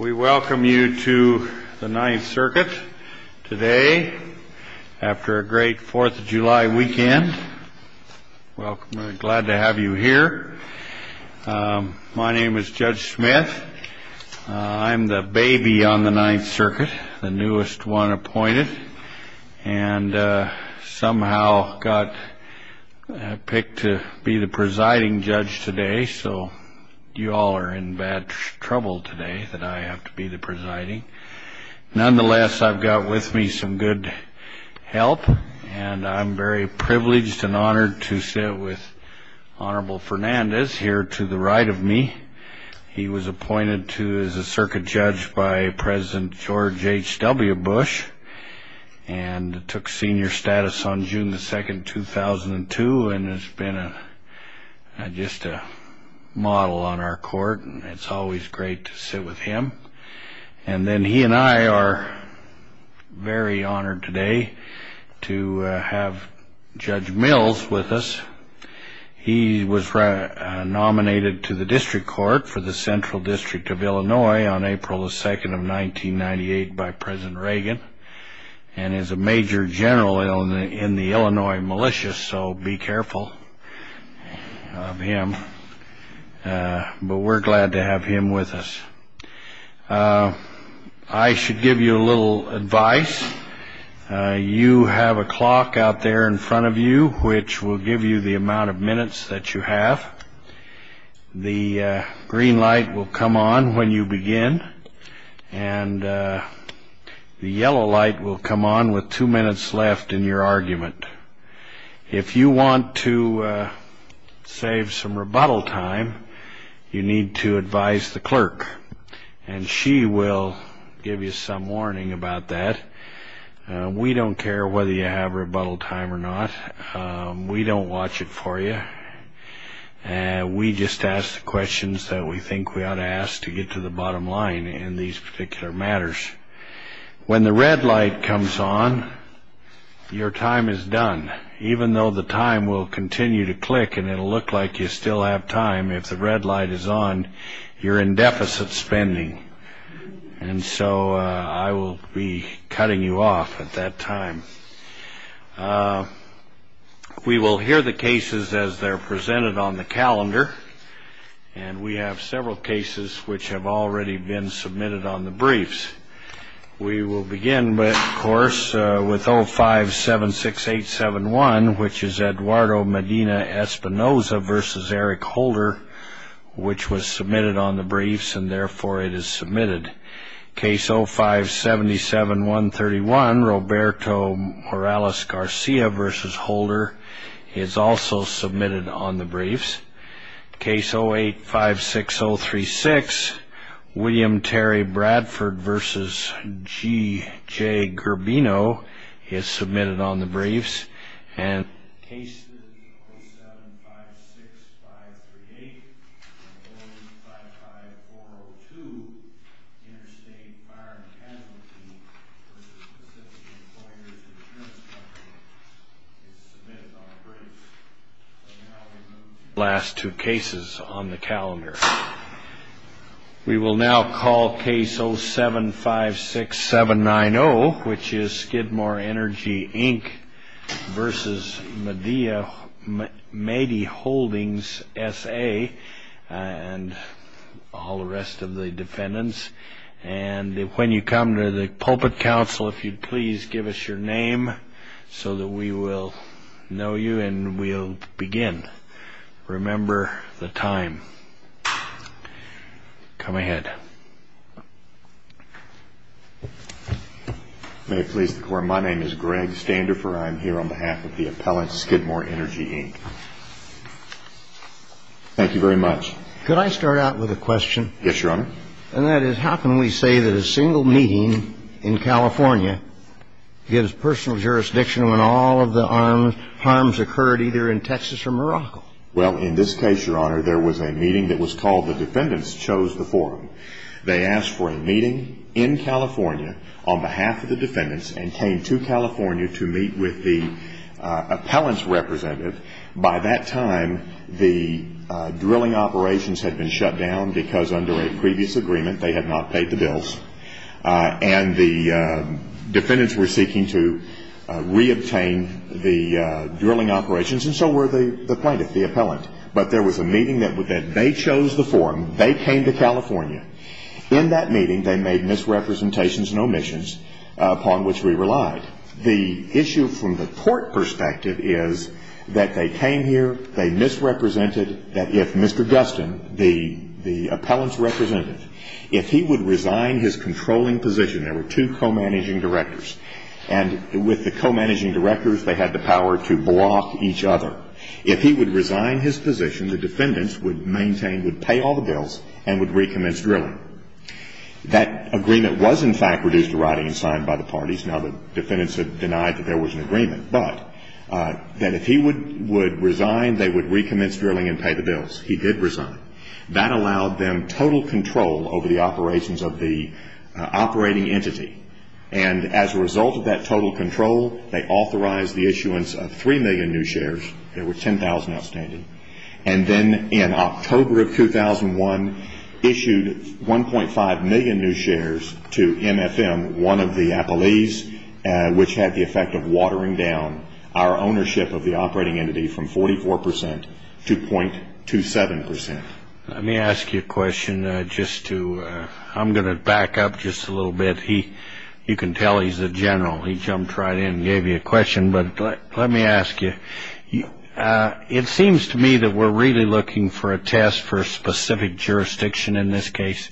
We welcome you to the Ninth Circuit today, after a great Fourth of July weekend, glad to have you here. My name is Judge Smith. I'm the baby on the Ninth Circuit, the newest one appointed, and somehow got picked to be the presiding judge today, so you all are in bad trouble today that I have to be the presiding. Nonetheless, I've got with me some good help, and I'm very privileged and honored to sit with Honorable Fernandez here to the right of me. He was appointed to as a circuit judge by President George H.W. Bush, and took senior status on June 2, 2002, and has been just a model on our court, and it's always great to sit with him. And then he and I are very honored today to have Judge Mills with us. He was nominated to the District Court for the Central District of Illinois on April 2, 1998, by President Reagan, and is a major general in the Illinois militias, so be careful of him. But we're glad to have him with us. I should give you a little advice. You have a clock out there in front of you, which will give you the amount of minutes that you have. The green light will come on when you begin, and the yellow light will come on with two minutes left in your argument. If you want to save some rebuttal time, you need to advise the clerk, and she will give you some warning about that. We don't care whether you have rebuttal time or not. We don't watch it for you. We just ask the questions that we think we ought to ask to get to the bottom line in these particular matters. When the red light comes on, your time is done. Even though the time will continue to click and it'll look like you still have time, if the red light is on, you're in deficit spending, and so I will be cutting you off at that time. We will hear the cases as they're presented on the calendar, and we have several cases which have already been submitted on the briefs. We will begin, of course, with 0576871, which is Eduardo Medina Espinoza versus Eric Holder, which was submitted on the briefs, and therefore it is submitted. Case 0577131, Roberto Morales Garcia versus Holder is also submitted on the briefs. Case 0856036, William Terry Bradford versus G. J. Gerbino is submitted on the briefs. And case 0756538 and 0855402, Interstate Fire and Casualty versus Pacific Employers Insurance Company is submitted on the briefs, and now we move to the last two cases on the calendar. We will now call case 0756790, which is Skidmore Energy, Inc. versus Madea Holdings, S.A. and all the rest of the defendants, and when you come to the pulpit council, if you'd please give us your name so that we will know you and we'll begin. Remember the time. Come ahead. May it please the Court, my name is Greg Standerfer. I am here on behalf of the appellant Skidmore Energy, Inc. Thank you very much. Could I start out with a question? Yes, Your Honor. And that is, how can we say that a single meeting in California gives personal jurisdiction when all of the harms occurred either in Texas or Morocco? Well, in this case, Your Honor, there was a meeting that was called the defendants chose the forum. They asked for a meeting in California on behalf of the defendants and came to California to meet with the appellant's representative. By that time, the drilling operations had been shut down because under a previous agreement, they had not paid the bills. And the defendants were seeking to reobtain the drilling operations and so were the plaintiff, the appellant. But there was a meeting that they chose the forum, they came to California. In that meeting, they made misrepresentations and omissions upon which we relied. The issue from the court perspective is that they came here, they misrepresented, that if Mr. Gustin, the appellant's representative, if he would resign his controlling position, there were two co-managing directors, and with the co-managing directors, they had the power to block each other. If he would resign his position, the defendants would maintain, would pay all the bills and would recommence drilling. That agreement was, in fact, reduced to writing and signed by the parties. Now, the defendants had denied that there was an agreement, but that if he would resign, they would recommence drilling and pay the bills. He did resign. That allowed them total control over the operations of the operating entity. And as a result of that total control, they authorized the issuance of 3 million new shares. There were 10,000 outstanding. And then in October of 2001, issued 1.5 million new shares to MFM, one of the appellees, which had the effect of watering down our ownership of the operating entity from 44 percent to .27 percent. Let me ask you a question just to, I'm going to back up just a little bit. He, you can tell he's a general. He jumped right in and gave you a question. But let me ask you, it seems to me that we're really looking for a test for a specific jurisdiction in this case.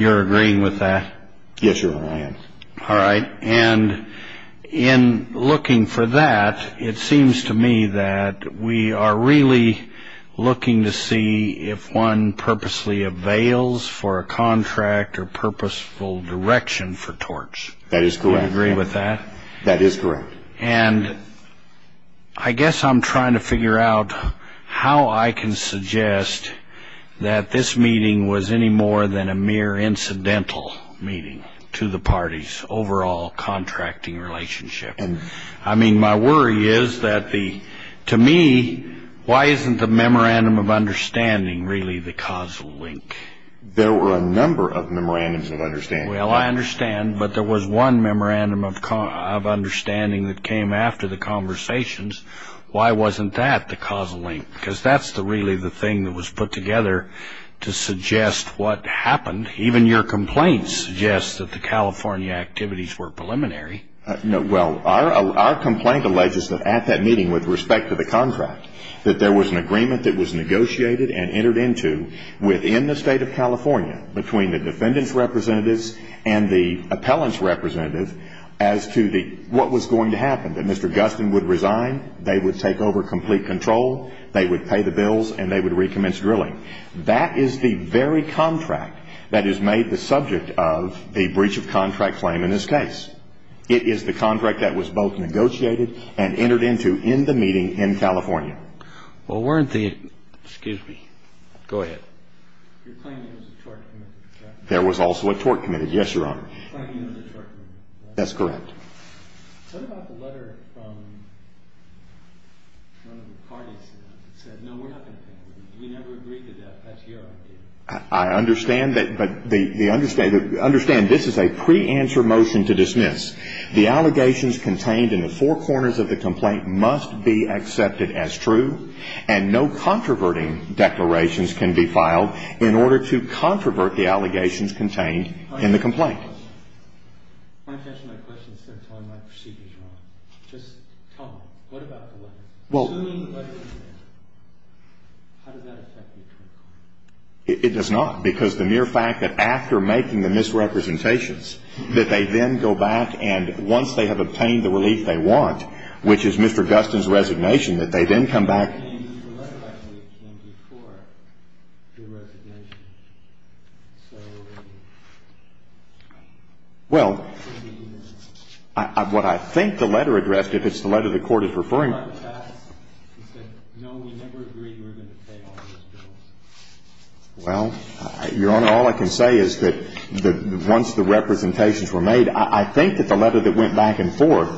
You're agreeing with that? Yes, sir. I am. All right. And in looking for that, it seems to me that we are really looking to see if one purposely avails for a contract or purposeful direction for Torch. That is correct. You agree with that? That is correct. And I guess I'm trying to figure out how I can suggest that this meeting was any more than a mere incidental meeting to the party's overall contracting relationship. And I mean, my worry is that the, to me, why isn't the memorandum of understanding really the causal link? There were a number of memorandums of understanding. Well, I understand. But there was one memorandum of understanding that came after the conversations. Why wasn't that the causal link? Because that's the really the thing that was put together to suggest what happened. Even your complaints suggest that the California activities were preliminary. No. Well, our complaint alleges that at that meeting with respect to the contract, that there was an agreement that was negotiated and entered into within the state of California between the defendants' representatives and the appellant's representative as to the, what was going to happen. That Mr. Gustin would resign, they would take over complete control, they would pay the bills and they would recommence drilling. That is the very contract that is made the subject of the breach of contract claim in this case. It is the contract that was both negotiated and entered into in the meeting in California. Well, weren't the, excuse me, go ahead. You're claiming there was a tort committed, correct? There was also a tort committed, yes, Your Honor. You're claiming there was a tort committed, correct? That's correct. Tell me about the letter from one of the parties that said, no, we're not going to take it. We never agreed to that. That's your idea. I understand that. But the understanding, understand this is a pre-answer motion to dismiss. The allegations contained in the four corners of the complaint must be accepted as true and no controverting declarations can be filed in order to controvert the allegations contained in the complaint. I want to finish my question instead of telling my proceedings, Your Honor. Just tell me, what about the letter? Well. Assuming the letter is in there, how does that affect the attorney court? It does not, because the mere fact that after making the misrepresentations, that they then go back and once they have obtained the relief they want, which is Mr. Gustin's resignation, that they then come back. Well, what I think the letter addressed, if it's the letter the court is referring to. Well, Your Honor, all I can say is that once the representations were made, I think that the letter that went back and forth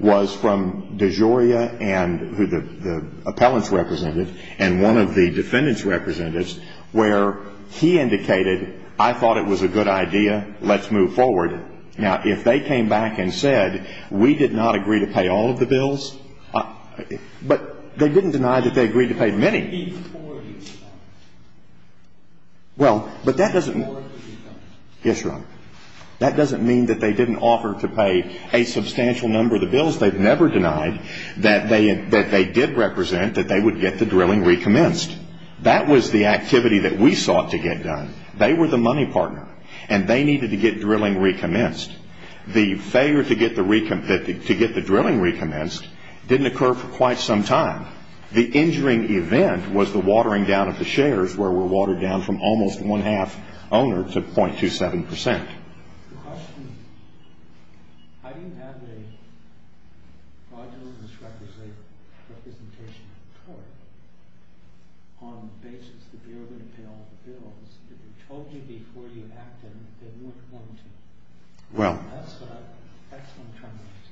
was from DeGioia and the appellants representative and one of the defendant's representatives, where he indicated, I thought it was a good idea, let's move forward. Now, if they came back and said, we did not agree to pay all of the bills, but they didn't deny that they agreed to pay many. Well, but that doesn't, yes, Your Honor, that doesn't mean that they didn't offer to pay a substantial number of the bills. They've never denied that they did represent, that they would get the drilling recommenced. That was the activity that we sought to get done. They were the money partner and they needed to get drilling recommenced. The failure to get the drilling recommenced didn't occur for quite some time. The injuring event was the watering down of the shares, where we're watered down from almost one-half owner to 0.27 percent. Well,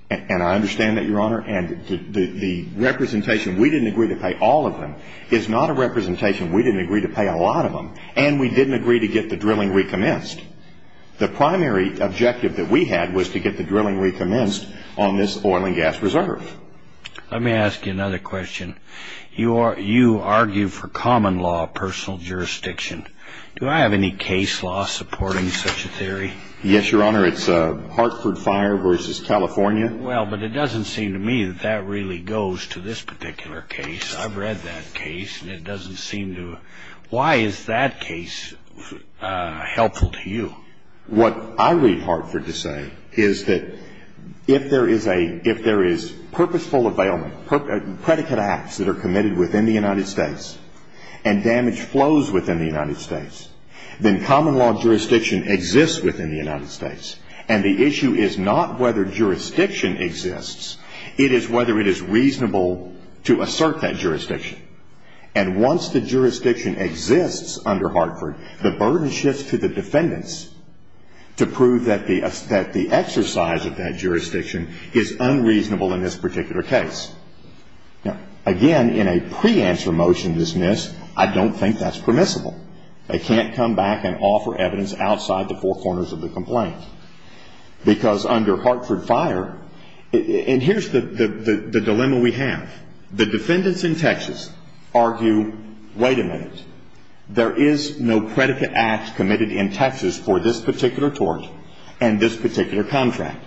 and I understand that, Your Honor. And the representation, we didn't agree to pay all of them, is not a representation, we didn't agree to pay a lot of them. And we didn't agree to get the drilling recommenced. The primary objective that we had was to get the drilling recommenced on this oil and gas reserve. Let me ask you another question. You argue for common law, personal jurisdiction. Do I have any case law supporting such a theory? Yes, Your Honor. It's Hartford Fire versus California. Well, but it doesn't seem to me that that really goes to this particular case. I've read that case and it doesn't seem to... Why is that case helpful to you? What I read Hartford to say is that if there is purposeful availment, predicate acts that are committed within the United States, and damage flows within the United States, then common law jurisdiction exists within the United States. And the issue is not whether jurisdiction exists, it is whether it is reasonable to assert that jurisdiction. And once the jurisdiction exists under Hartford, the burden shifts to the defendants to prove that the exercise of that jurisdiction is unreasonable in this particular case. Now, again, in a pre-answer motion, I don't think that's permissible. They can't come back and offer evidence outside the four corners of the complaint. Because under Hartford Fire, and here's the dilemma we have, the defendants in Texas argue, wait a minute, there is no predicate act committed in Texas for this particular tort and this particular contract.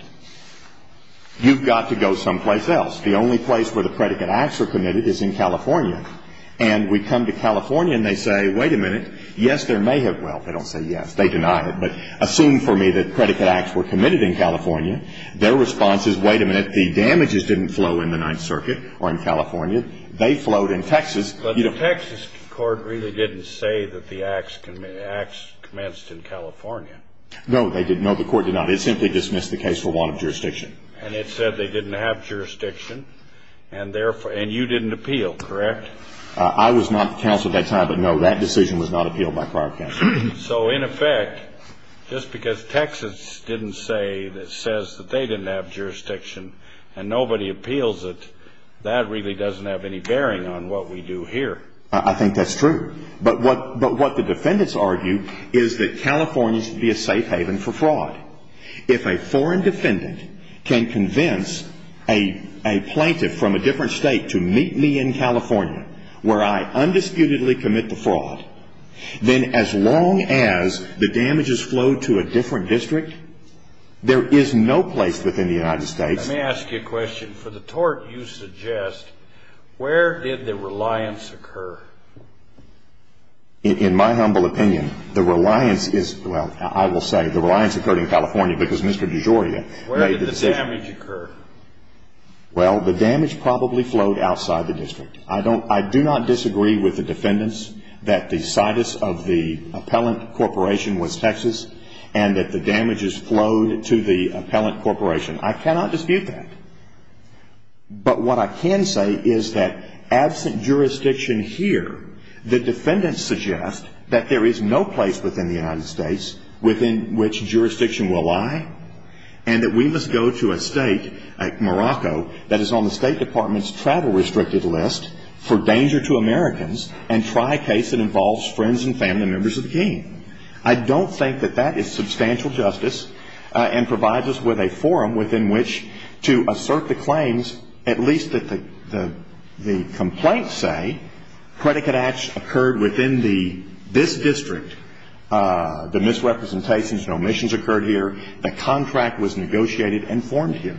You've got to go someplace else. The only place where the predicate acts are committed is in California. And we come to California and they say, wait a minute, yes, there may have... Well, they don't say yes, they deny it. But assume for me that predicate acts were committed in California, their response is, wait a minute, the damages didn't flow in the Ninth Circuit or in California, they flowed in Texas. But the Texas court really didn't say that the acts commenced in California. No, they didn't. No, the court did not. It simply dismissed the case for want of jurisdiction. And it said they didn't have jurisdiction, and you didn't appeal, correct? I was not counsel at that time, but no, that decision was not appealed by prior counsel. So in effect, just because Texas didn't say, that says that they didn't have jurisdiction and nobody appeals it, that really doesn't have any bearing on what we do here. I think that's true. But what the defendants argue is that California should be a safe haven for fraud. If a foreign defendant can convince a plaintiff from a different state to meet me in California where I undisputedly commit the fraud, then as long as the damages flowed to a different district, there is no place within the United States. Let me ask you a question. For the tort you suggest, where did the reliance occur? In my humble opinion, the reliance is, well, I will say the reliance occurred in California because Mr. DeGioia made the decision. Where did the damage occur? Well, the damage probably flowed outside the district. I do not disagree with the defendants that the situs of the appellant corporation was Texas and that the damages flowed to the appellant corporation. I cannot dispute that. But what I can say is that absent jurisdiction here, the defendants suggest that there is no place within the United States within which jurisdiction will lie and that we must go to a state like Morocco that is on the State Department's travel restricted list for danger to Americans and try a case that involves friends and family members of the king. I don't think that that is substantial justice and provides us with a forum within which to assert the claims at least that the complaints say predicate acts occurred within this district. The misrepresentations, no omissions occurred here. The contract was negotiated and formed here.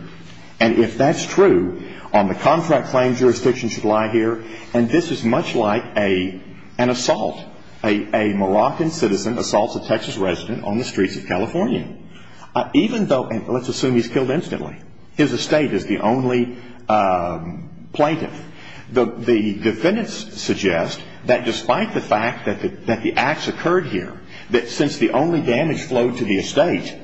And if that's true, on the contract claim jurisdiction should lie here and this is much like an assault, a Moroccan citizen assaults a Texas resident on the streets of California. Even though, and let's assume he's killed instantly, his estate is the only plaintiff. The defendants suggest that despite the fact that the acts occurred here, that since the only damage flowed to the estate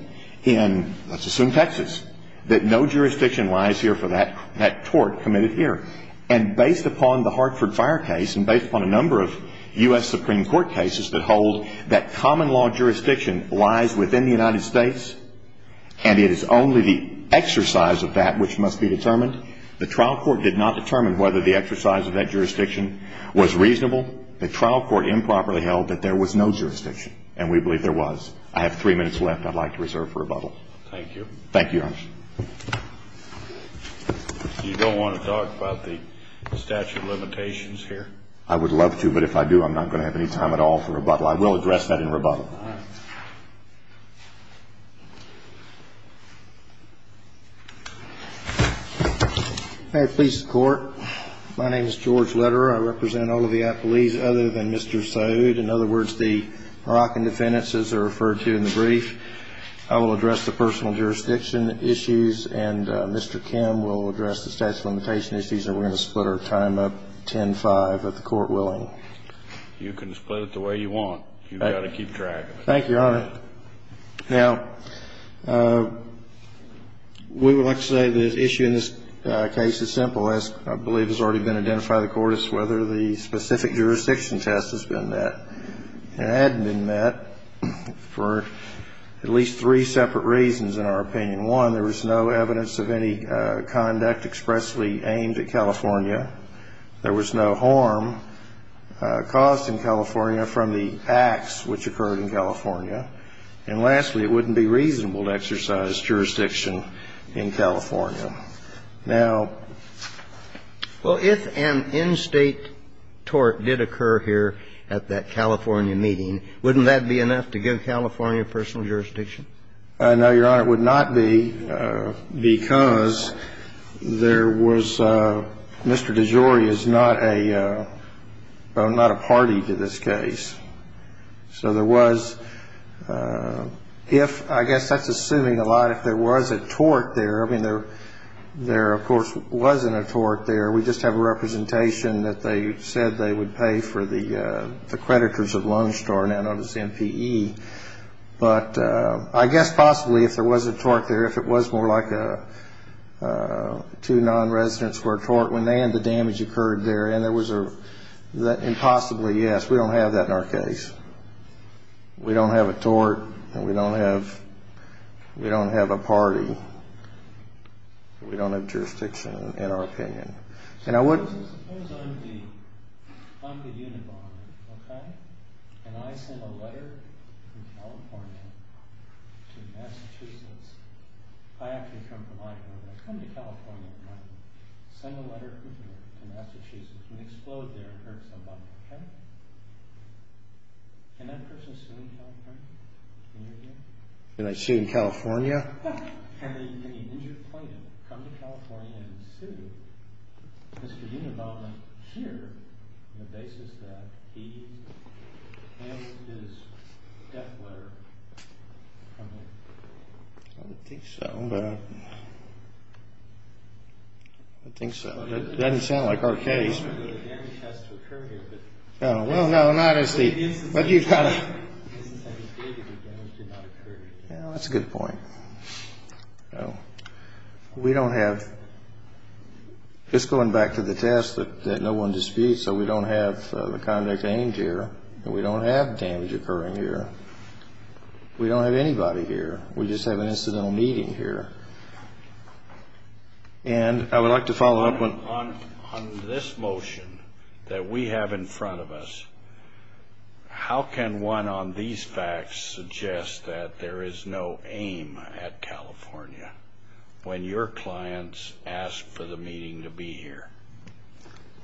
in, let's assume Texas, that no jurisdiction lies here for that tort committed here. And based upon the Hartford fire case and based upon a number of U.S. Supreme Court cases that hold that common law jurisdiction lies within the United States and it is only the exercise of that which must be determined, the trial court did not determine whether the exercise of that jurisdiction was reasonable. The trial court improperly held that there was no jurisdiction and we believe there was. I have three minutes left I'd like to reserve for rebuttal. Thank you. Thank you, Your Honor. You don't want to talk about the statute of limitations here? I would love to, but if I do, I'm not going to have any time at all for rebuttal. I will address that in rebuttal. May it please the Court, my name is George Lederer. I represent all of the appellees other than Mr. Saoud. In other words, the Moroccan defendants as they're referred to in the brief. I will address the personal jurisdiction issues and Mr. Kim will address the statute of limitation issues and we're going to split our time up 10-5 if the Court willing. You can split it the way you want. You've got to keep track of it. Thank you, Your Honor. Now, we would like to say the issue in this case is simple, as I believe has already been identified by the Court, is whether the specific jurisdiction test has been met. It hadn't been met for at least three separate reasons in our opinion. One, there was no evidence of any conduct expressly aimed at California. There was no harm caused in California from the acts which occurred in California. And lastly, it wouldn't be reasonable to exercise jurisdiction in California. Now, well, if an in-state tort did occur here at that California meeting, wouldn't that be enough to give California personal jurisdiction? No, Your Honor, it would not be because there was, Mr. DeJory is not a party to this case. So there was, if, I guess that's assuming a lot, if there was a tort there, I mean, there, of course, wasn't a tort there. We just have a representation that they said they would pay for the creditors of Lone Star, now known as MPE. But I guess possibly if there was a tort there, if it was more like two non-residents were tort when they had the damage occurred there, and there was a, and possibly, yes, we don't have that in our case. We don't have a tort, and we don't have a party. We don't have jurisdiction, in our opinion. And I would. Suppose I'm the, I'm the unit bonder, okay, and I send a letter from California to Massachusetts. I actually come from Idaho, but I come to California, and I send a letter to Massachusetts, and they explode there and hurt somebody, okay? Can that person sue in California? Can you hear me? Can I sue in California? Can the injured plaintiff come to California and sue Mr. Unabomber here, on the basis that he handed his death letter from there? I don't think so, but I, I think so. It doesn't sound like our case. The damage has to occur here, but. No, well, no, not as the, but you've got to. The damage did not occur here. Yeah, that's a good point. No, we don't have, it's going back to the test that, that no one disputes. So we don't have the conduct aimed here, and we don't have damage occurring here. We don't have anybody here. We just have an incidental meeting here. And I would like to follow up on. On, on this motion that we have in front of us. How can one on these facts suggest that there is no aim at California when your clients ask for the meeting to be here?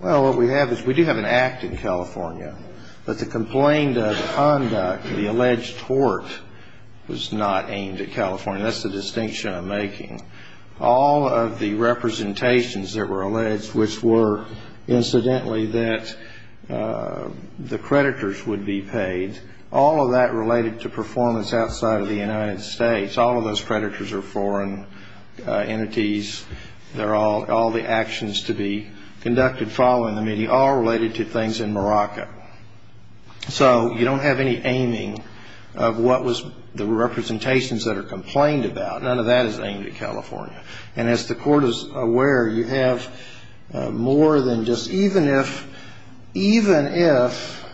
Well, what we have is we do have an act in California, but the complaint of conduct, the alleged tort was not aimed at California. That's the distinction I'm making. All of the representations that were alleged, which were incidentally that the creditors would be paid, all of that related to performance outside of the United States. All of those creditors are foreign entities. They're all, all the actions to be conducted following the meeting, all related to things in Morocco. So you don't have any aiming of what was the representations that are complained about. None of that is aimed at California. And as the court is aware, you have more than just, even if, even if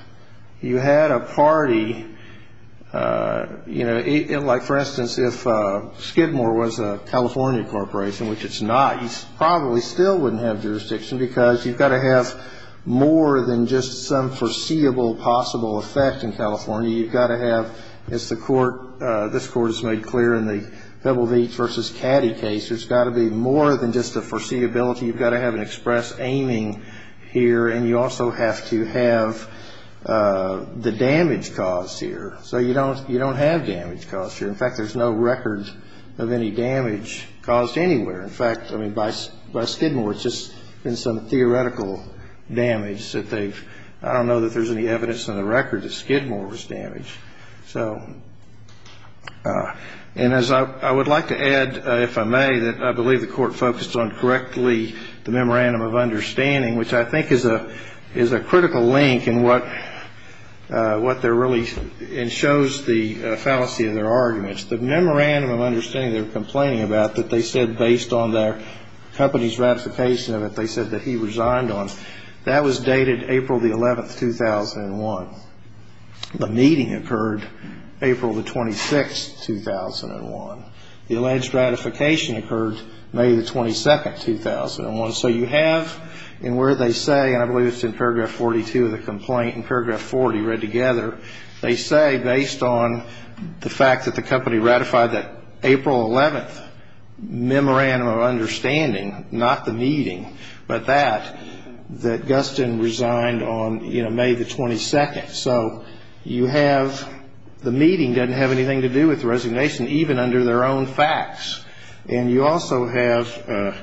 you had a party, you know, like for instance, if Skidmore was a California corporation, which it's not, you probably still wouldn't have jurisdiction because you've got to have, as the court, this court has made clear in the Pebble Beach versus Caddy case, there's got to be more than just a foreseeability. You've got to have an express aiming here. And you also have to have the damage caused here. So you don't, you don't have damage caused here. In fact, there's no record of any damage caused anywhere. In fact, I mean, by Skidmore, it's just been some theoretical damage that they've, I don't know that there's any evidence in the record that Skidmore was damaged. So, and as I would like to add, if I may, that I believe the court focused on correctly the memorandum of understanding, which I think is a, is a critical link in what, what they're really, and shows the fallacy of their arguments. The memorandum of understanding they're complaining about that they said based on their company's ratification of it, they said that he resigned on, that was dated April the 11th, 2001. The meeting occurred April the 26th, 2001. The alleged ratification occurred May the 22nd, 2001. So you have in where they say, and I believe it's in paragraph 42 of the complaint and paragraph 40 read together, they say based on the fact that the company ratified that April 11th memorandum of understanding, not the meeting, but that, that Gustin resigned on, you know, May the 22nd. So you have, the meeting doesn't have anything to do with the resignation, even under their own facts. And you also have,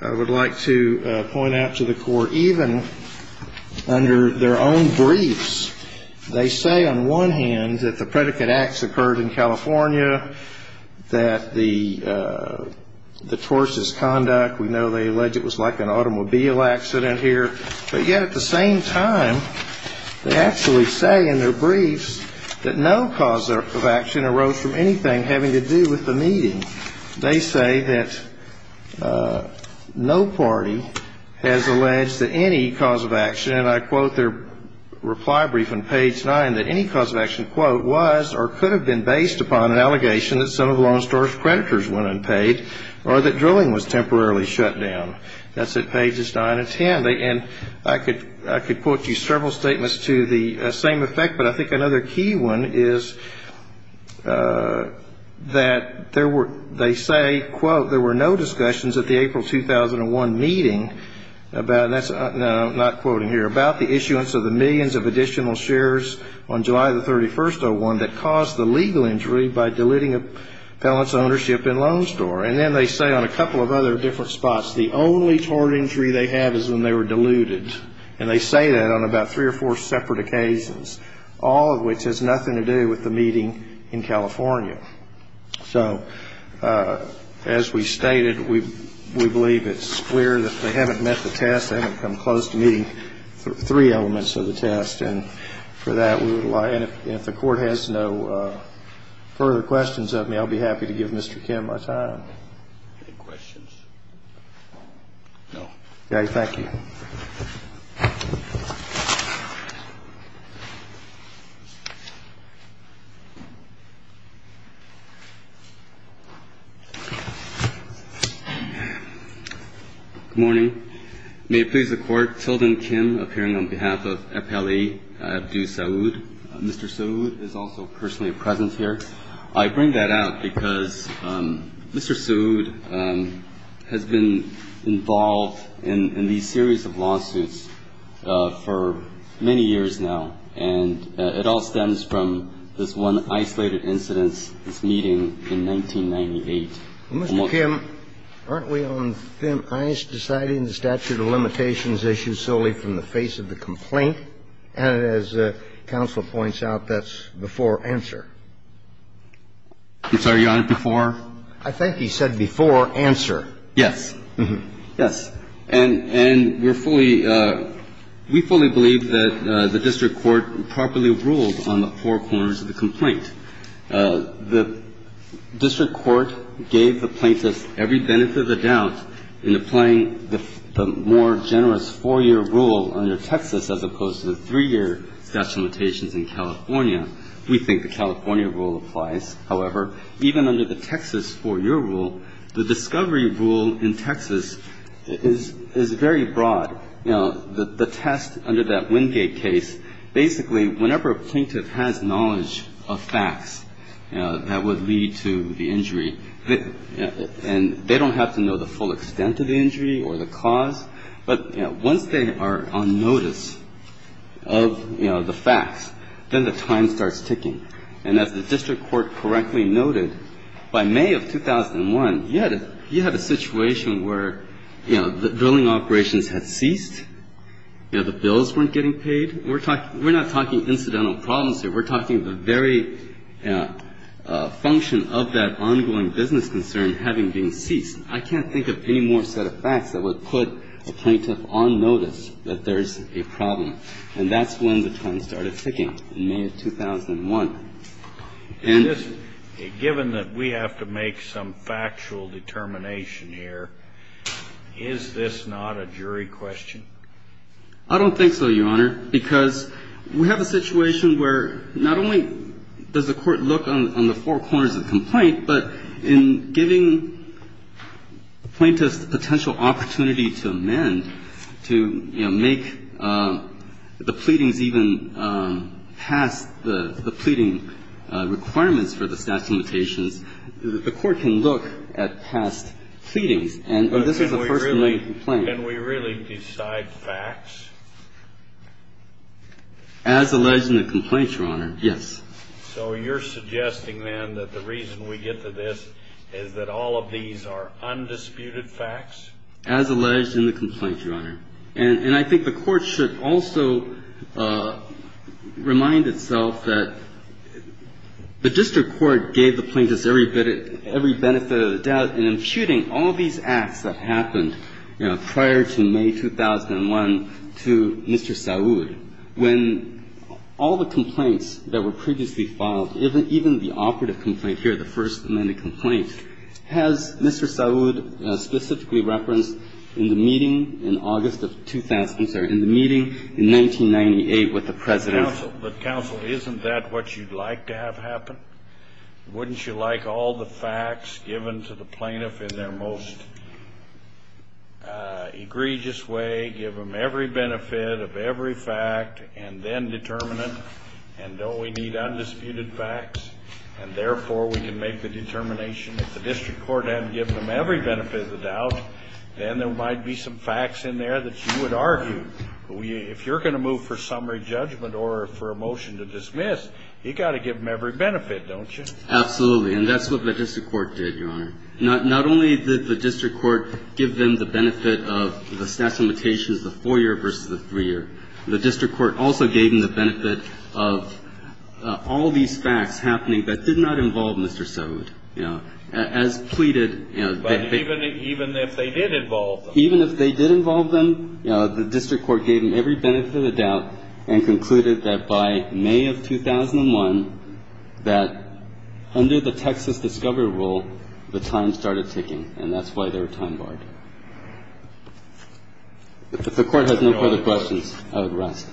I would like to point out to the court, even under their own briefs, they say on one hand that the predicate acts occurred in California, that the, the tortious conduct, we know they alleged it was like an automobile accident here, but yet at the same time, they actually say in their briefs that no cause of action arose from anything having to do with the meeting. They say that no party has alleged that any cause of action, and I quote their reply brief on page nine, that any cause of action, quote, was or could have been based upon an allegation that some of the lawn storage creditors went unpaid or that drilling was temporarily shut down. That's at pages nine and 10. They, and I could, I could put you several statements to the same effect, but I think another key one is that there were, they say, quote, there were no discussions at the April, 2001 meeting about, and that's not quoting here, about the issuance of millions of additional shares on July the 31st, 2001 that caused the legal injury by deleting a felon's ownership in Loan Store. And then they say on a couple of other different spots, the only tort injury they have is when they were diluted, and they say that on about three or four separate occasions, all of which has nothing to do with the meeting in California. So as we stated, we, we believe it's clear that they haven't met the test. They haven't come close to meeting three elements of the test. And for that, we would like, and if the court has no further questions of me, I'll be happy to give Mr. Kim our time. Any questions? No. Okay. Thank you. Good morning. May it please the Court, Tilden Kim, appearing on behalf of Appellee Abdu Saoud. Mr. Saoud is also personally present here. I bring that out because Mr. Saoud has been involved in, in these series of lawsuits for many years now, and it all stems from this one isolated incident, this meeting in 1998. Mr. Kim, aren't we on thin ice deciding the statute of limitations issues solely from the face of the complaint? And as counsel points out, that's before answer. I'm sorry. You're on it before? I think he said before answer. Yes. Yes. And, and we're fully, we fully believe that the district court properly ruled on the four corners of the complaint. The district court gave the plaintiff every benefit of the doubt in applying the more generous four-year rule under Texas, as opposed to the three-year statute of limitations in California. We think the California rule applies. However, even under the Texas four-year rule, the discovery rule in Texas is, is very broad. You know, the, the test under that Wingate case, basically whenever a plaintiff has knowledge of facts that would lead to the injury, and they don't have to know the full extent of the injury or the cause, but once they are on notice of, you know, the facts, then the time starts ticking. And as the district court correctly noted, by May of 2001, you had a, you had a situation where, you know, the drilling operations had ceased, you know, the bills weren't getting paid. We're talking, we're not talking incidental problems here. We're talking the very function of that ongoing business concern having been ceased. I can't think of any more set of facts that would put a plaintiff on notice that there's a problem. And that's when the time started ticking, in May of 2001. And given that we have to make some factual determination here, is this not a jury question? I don't think so, Your Honor, because we have a situation where not only does the court look on the four corners of the complaint, but in giving the plaintiff the potential opportunity to amend, to, you know, make the pleadings even past the pleading requirements for the statute of limitations, the court can look at past pleadings, and this is the first remaining complaint. Can we really decide facts? As alleged in the complaint, Your Honor, yes. So you're suggesting then that the reason we get to this is that all of these are undisputed facts? As alleged in the complaint, Your Honor. And I think the court should also remind itself that the district court gave the plaintiffs every benefit of the doubt in imputing all these acts that happened, you know, prior to May 2001 to Mr. Saud. When all the complaints that were previously filed, even the operative complaint here, the first amended complaint, has Mr. Saud specifically referenced in the meeting in August of 2000, I'm sorry, in the meeting in 1998 with the President. But, counsel, isn't that what you'd like to have happen? Wouldn't you like all the facts given to the plaintiff in their most egregious way, give them every benefit of every fact, and then determine it, and don't we need undisputed facts, and therefore we can make the determination if the district court hadn't given them every benefit of the doubt, then there might be some facts in there that you would argue. If you're going to move for summary judgment or for a motion to dismiss, you've got to have the facts in there, don't you? Absolutely. And that's what the district court did, Your Honor. Not only did the district court give them the benefit of the statute of limitations, the four-year versus the three-year, the district court also gave them the benefit of all these facts happening that did not involve Mr. Saud, you know. As pleaded. But even if they did involve them? Egyptian gave the state the benefit of the doubt, and concluded that by May of 2001 that under the Texas discovery rule the times start of ticking, and that's why their time more. If the court has no further questions, I would rust.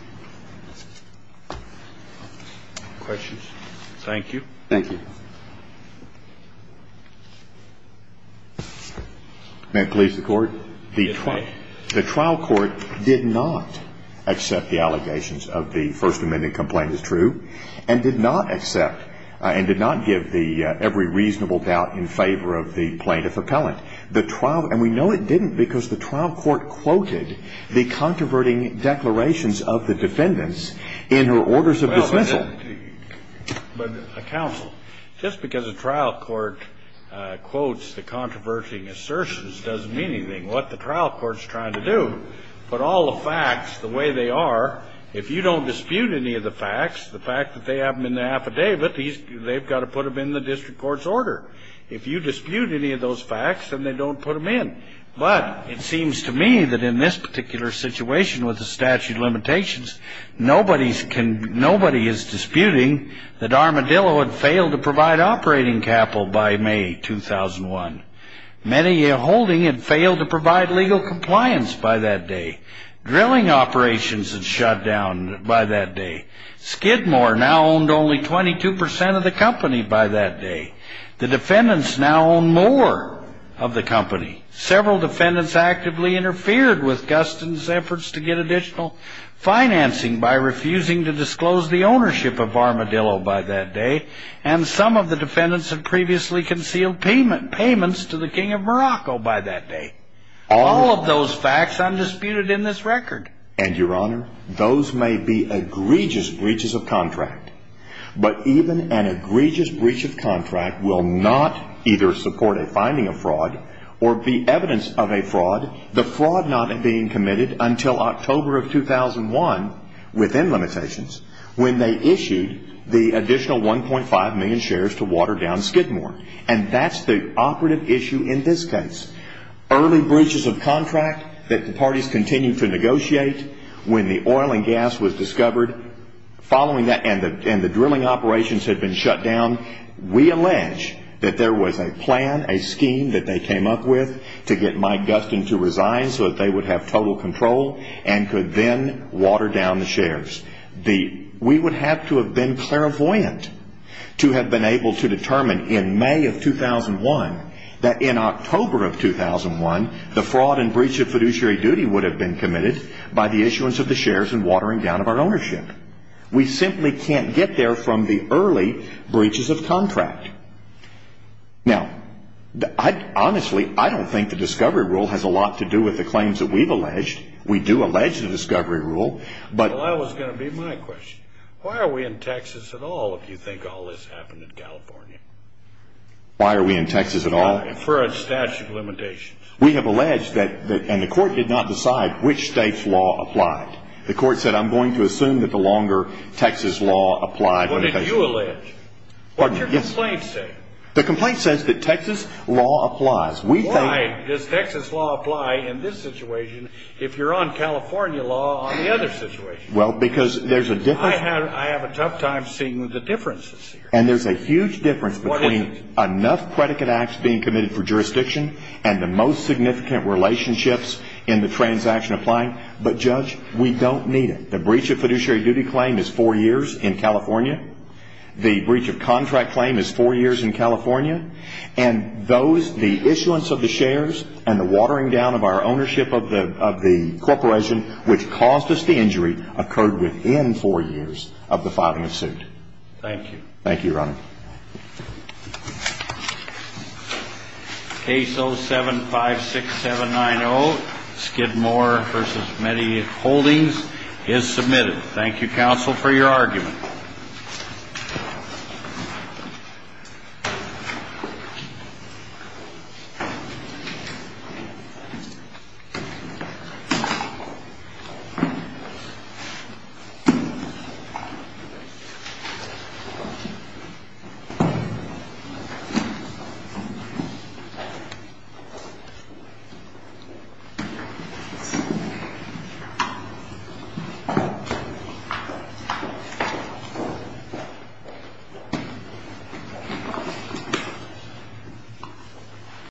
Questions? Thank you. Thank you. May I please the court? The trial court did not accept the allegations of the First Amendment complaint as true, and did not accept and did not give the every reasonable doubt in favor of the plaintiff appellant. The trial, and we know it didn't because the trial court quoted the controverting declarations of the defendants in her orders of dismissal. But a counsel, just because a trial court quotes the controverting assertions doesn't mean anything. What the trial court's trying to do, put all the facts the way they are, if you don't dispute any of the facts, the fact that they have them in the affidavit, they've got to put them in the district court's order. If you dispute any of those facts, then they don't put them in. But it seems to me that in this particular situation with the statute of limitations, nobody is disputing that Armadillo had failed to provide operating capital by May 2001. Medellin Holding had failed to provide legal compliance by that day. Drilling Operations had shut down by that day. Skidmore now owned only 22% of the company by that day. The defendants now own more of the company. Several defendants actively interfered with Gustin's efforts to get additional financing by refusing to disclose the ownership of Armadillo by that day. And some of the defendants had previously concealed payments to the King of Morocco by that day. All of those facts undisputed in this record. And your honor, those may be egregious breaches of contract. But even an egregious breach of contract will not either support a finding of fraud or be evidence of a fraud, the fraud not being committed until October of 2001 within limitations when they issued the additional 1.5 million shares to water down Skidmore. And that's the operative issue in this case. Early breaches of contract that the parties continued to negotiate when the oil and gas was discovered following that and the drilling operations had been shut down, we allege that there was a plan, a scheme that they came up with to get Mike Gustin to resign so that they would have total control and could then water down the shares. We would have to have been clairvoyant to have been able to determine in May of 2001 that in October of 2001, the fraud and breach of fiduciary duty would have been committed by the issuance of the shares and watering down of our ownership. We simply can't get there from the early breaches of contract. Now, honestly, I don't think the discovery rule has a lot to do with the claims that we've alleged. We do allege the discovery rule, but. Well, that was going to be my question. Why are we in Texas at all if you think all this happened in California? Why are we in Texas at all? For a statute of limitations. We have alleged that, and the court did not decide which state's law applied. The court said, I'm going to assume that the longer Texas law applied. What did you allege? What did your complaint say? The complaint says that Texas law applies. Why does Texas law apply in this situation if you're on California law on the other situation? Well, because there's a difference. I have a tough time seeing the differences here. And there's a huge difference between enough predicate acts being committed for jurisdiction and the most significant relationships in the transaction applying. But, Judge, we don't need it. The breach of fiduciary duty claim is four years in California. The breach of contract claim is four years in California. And those, the issuance of the shares and the watering down of our ownership of the corporation which caused us the injury occurred within four years of the filing of suit. Thank you. Thank you, Your Honor. Case 0756790, Skidmore v. Meadie Holdings is submitted. Thank you, counsel, for your argument.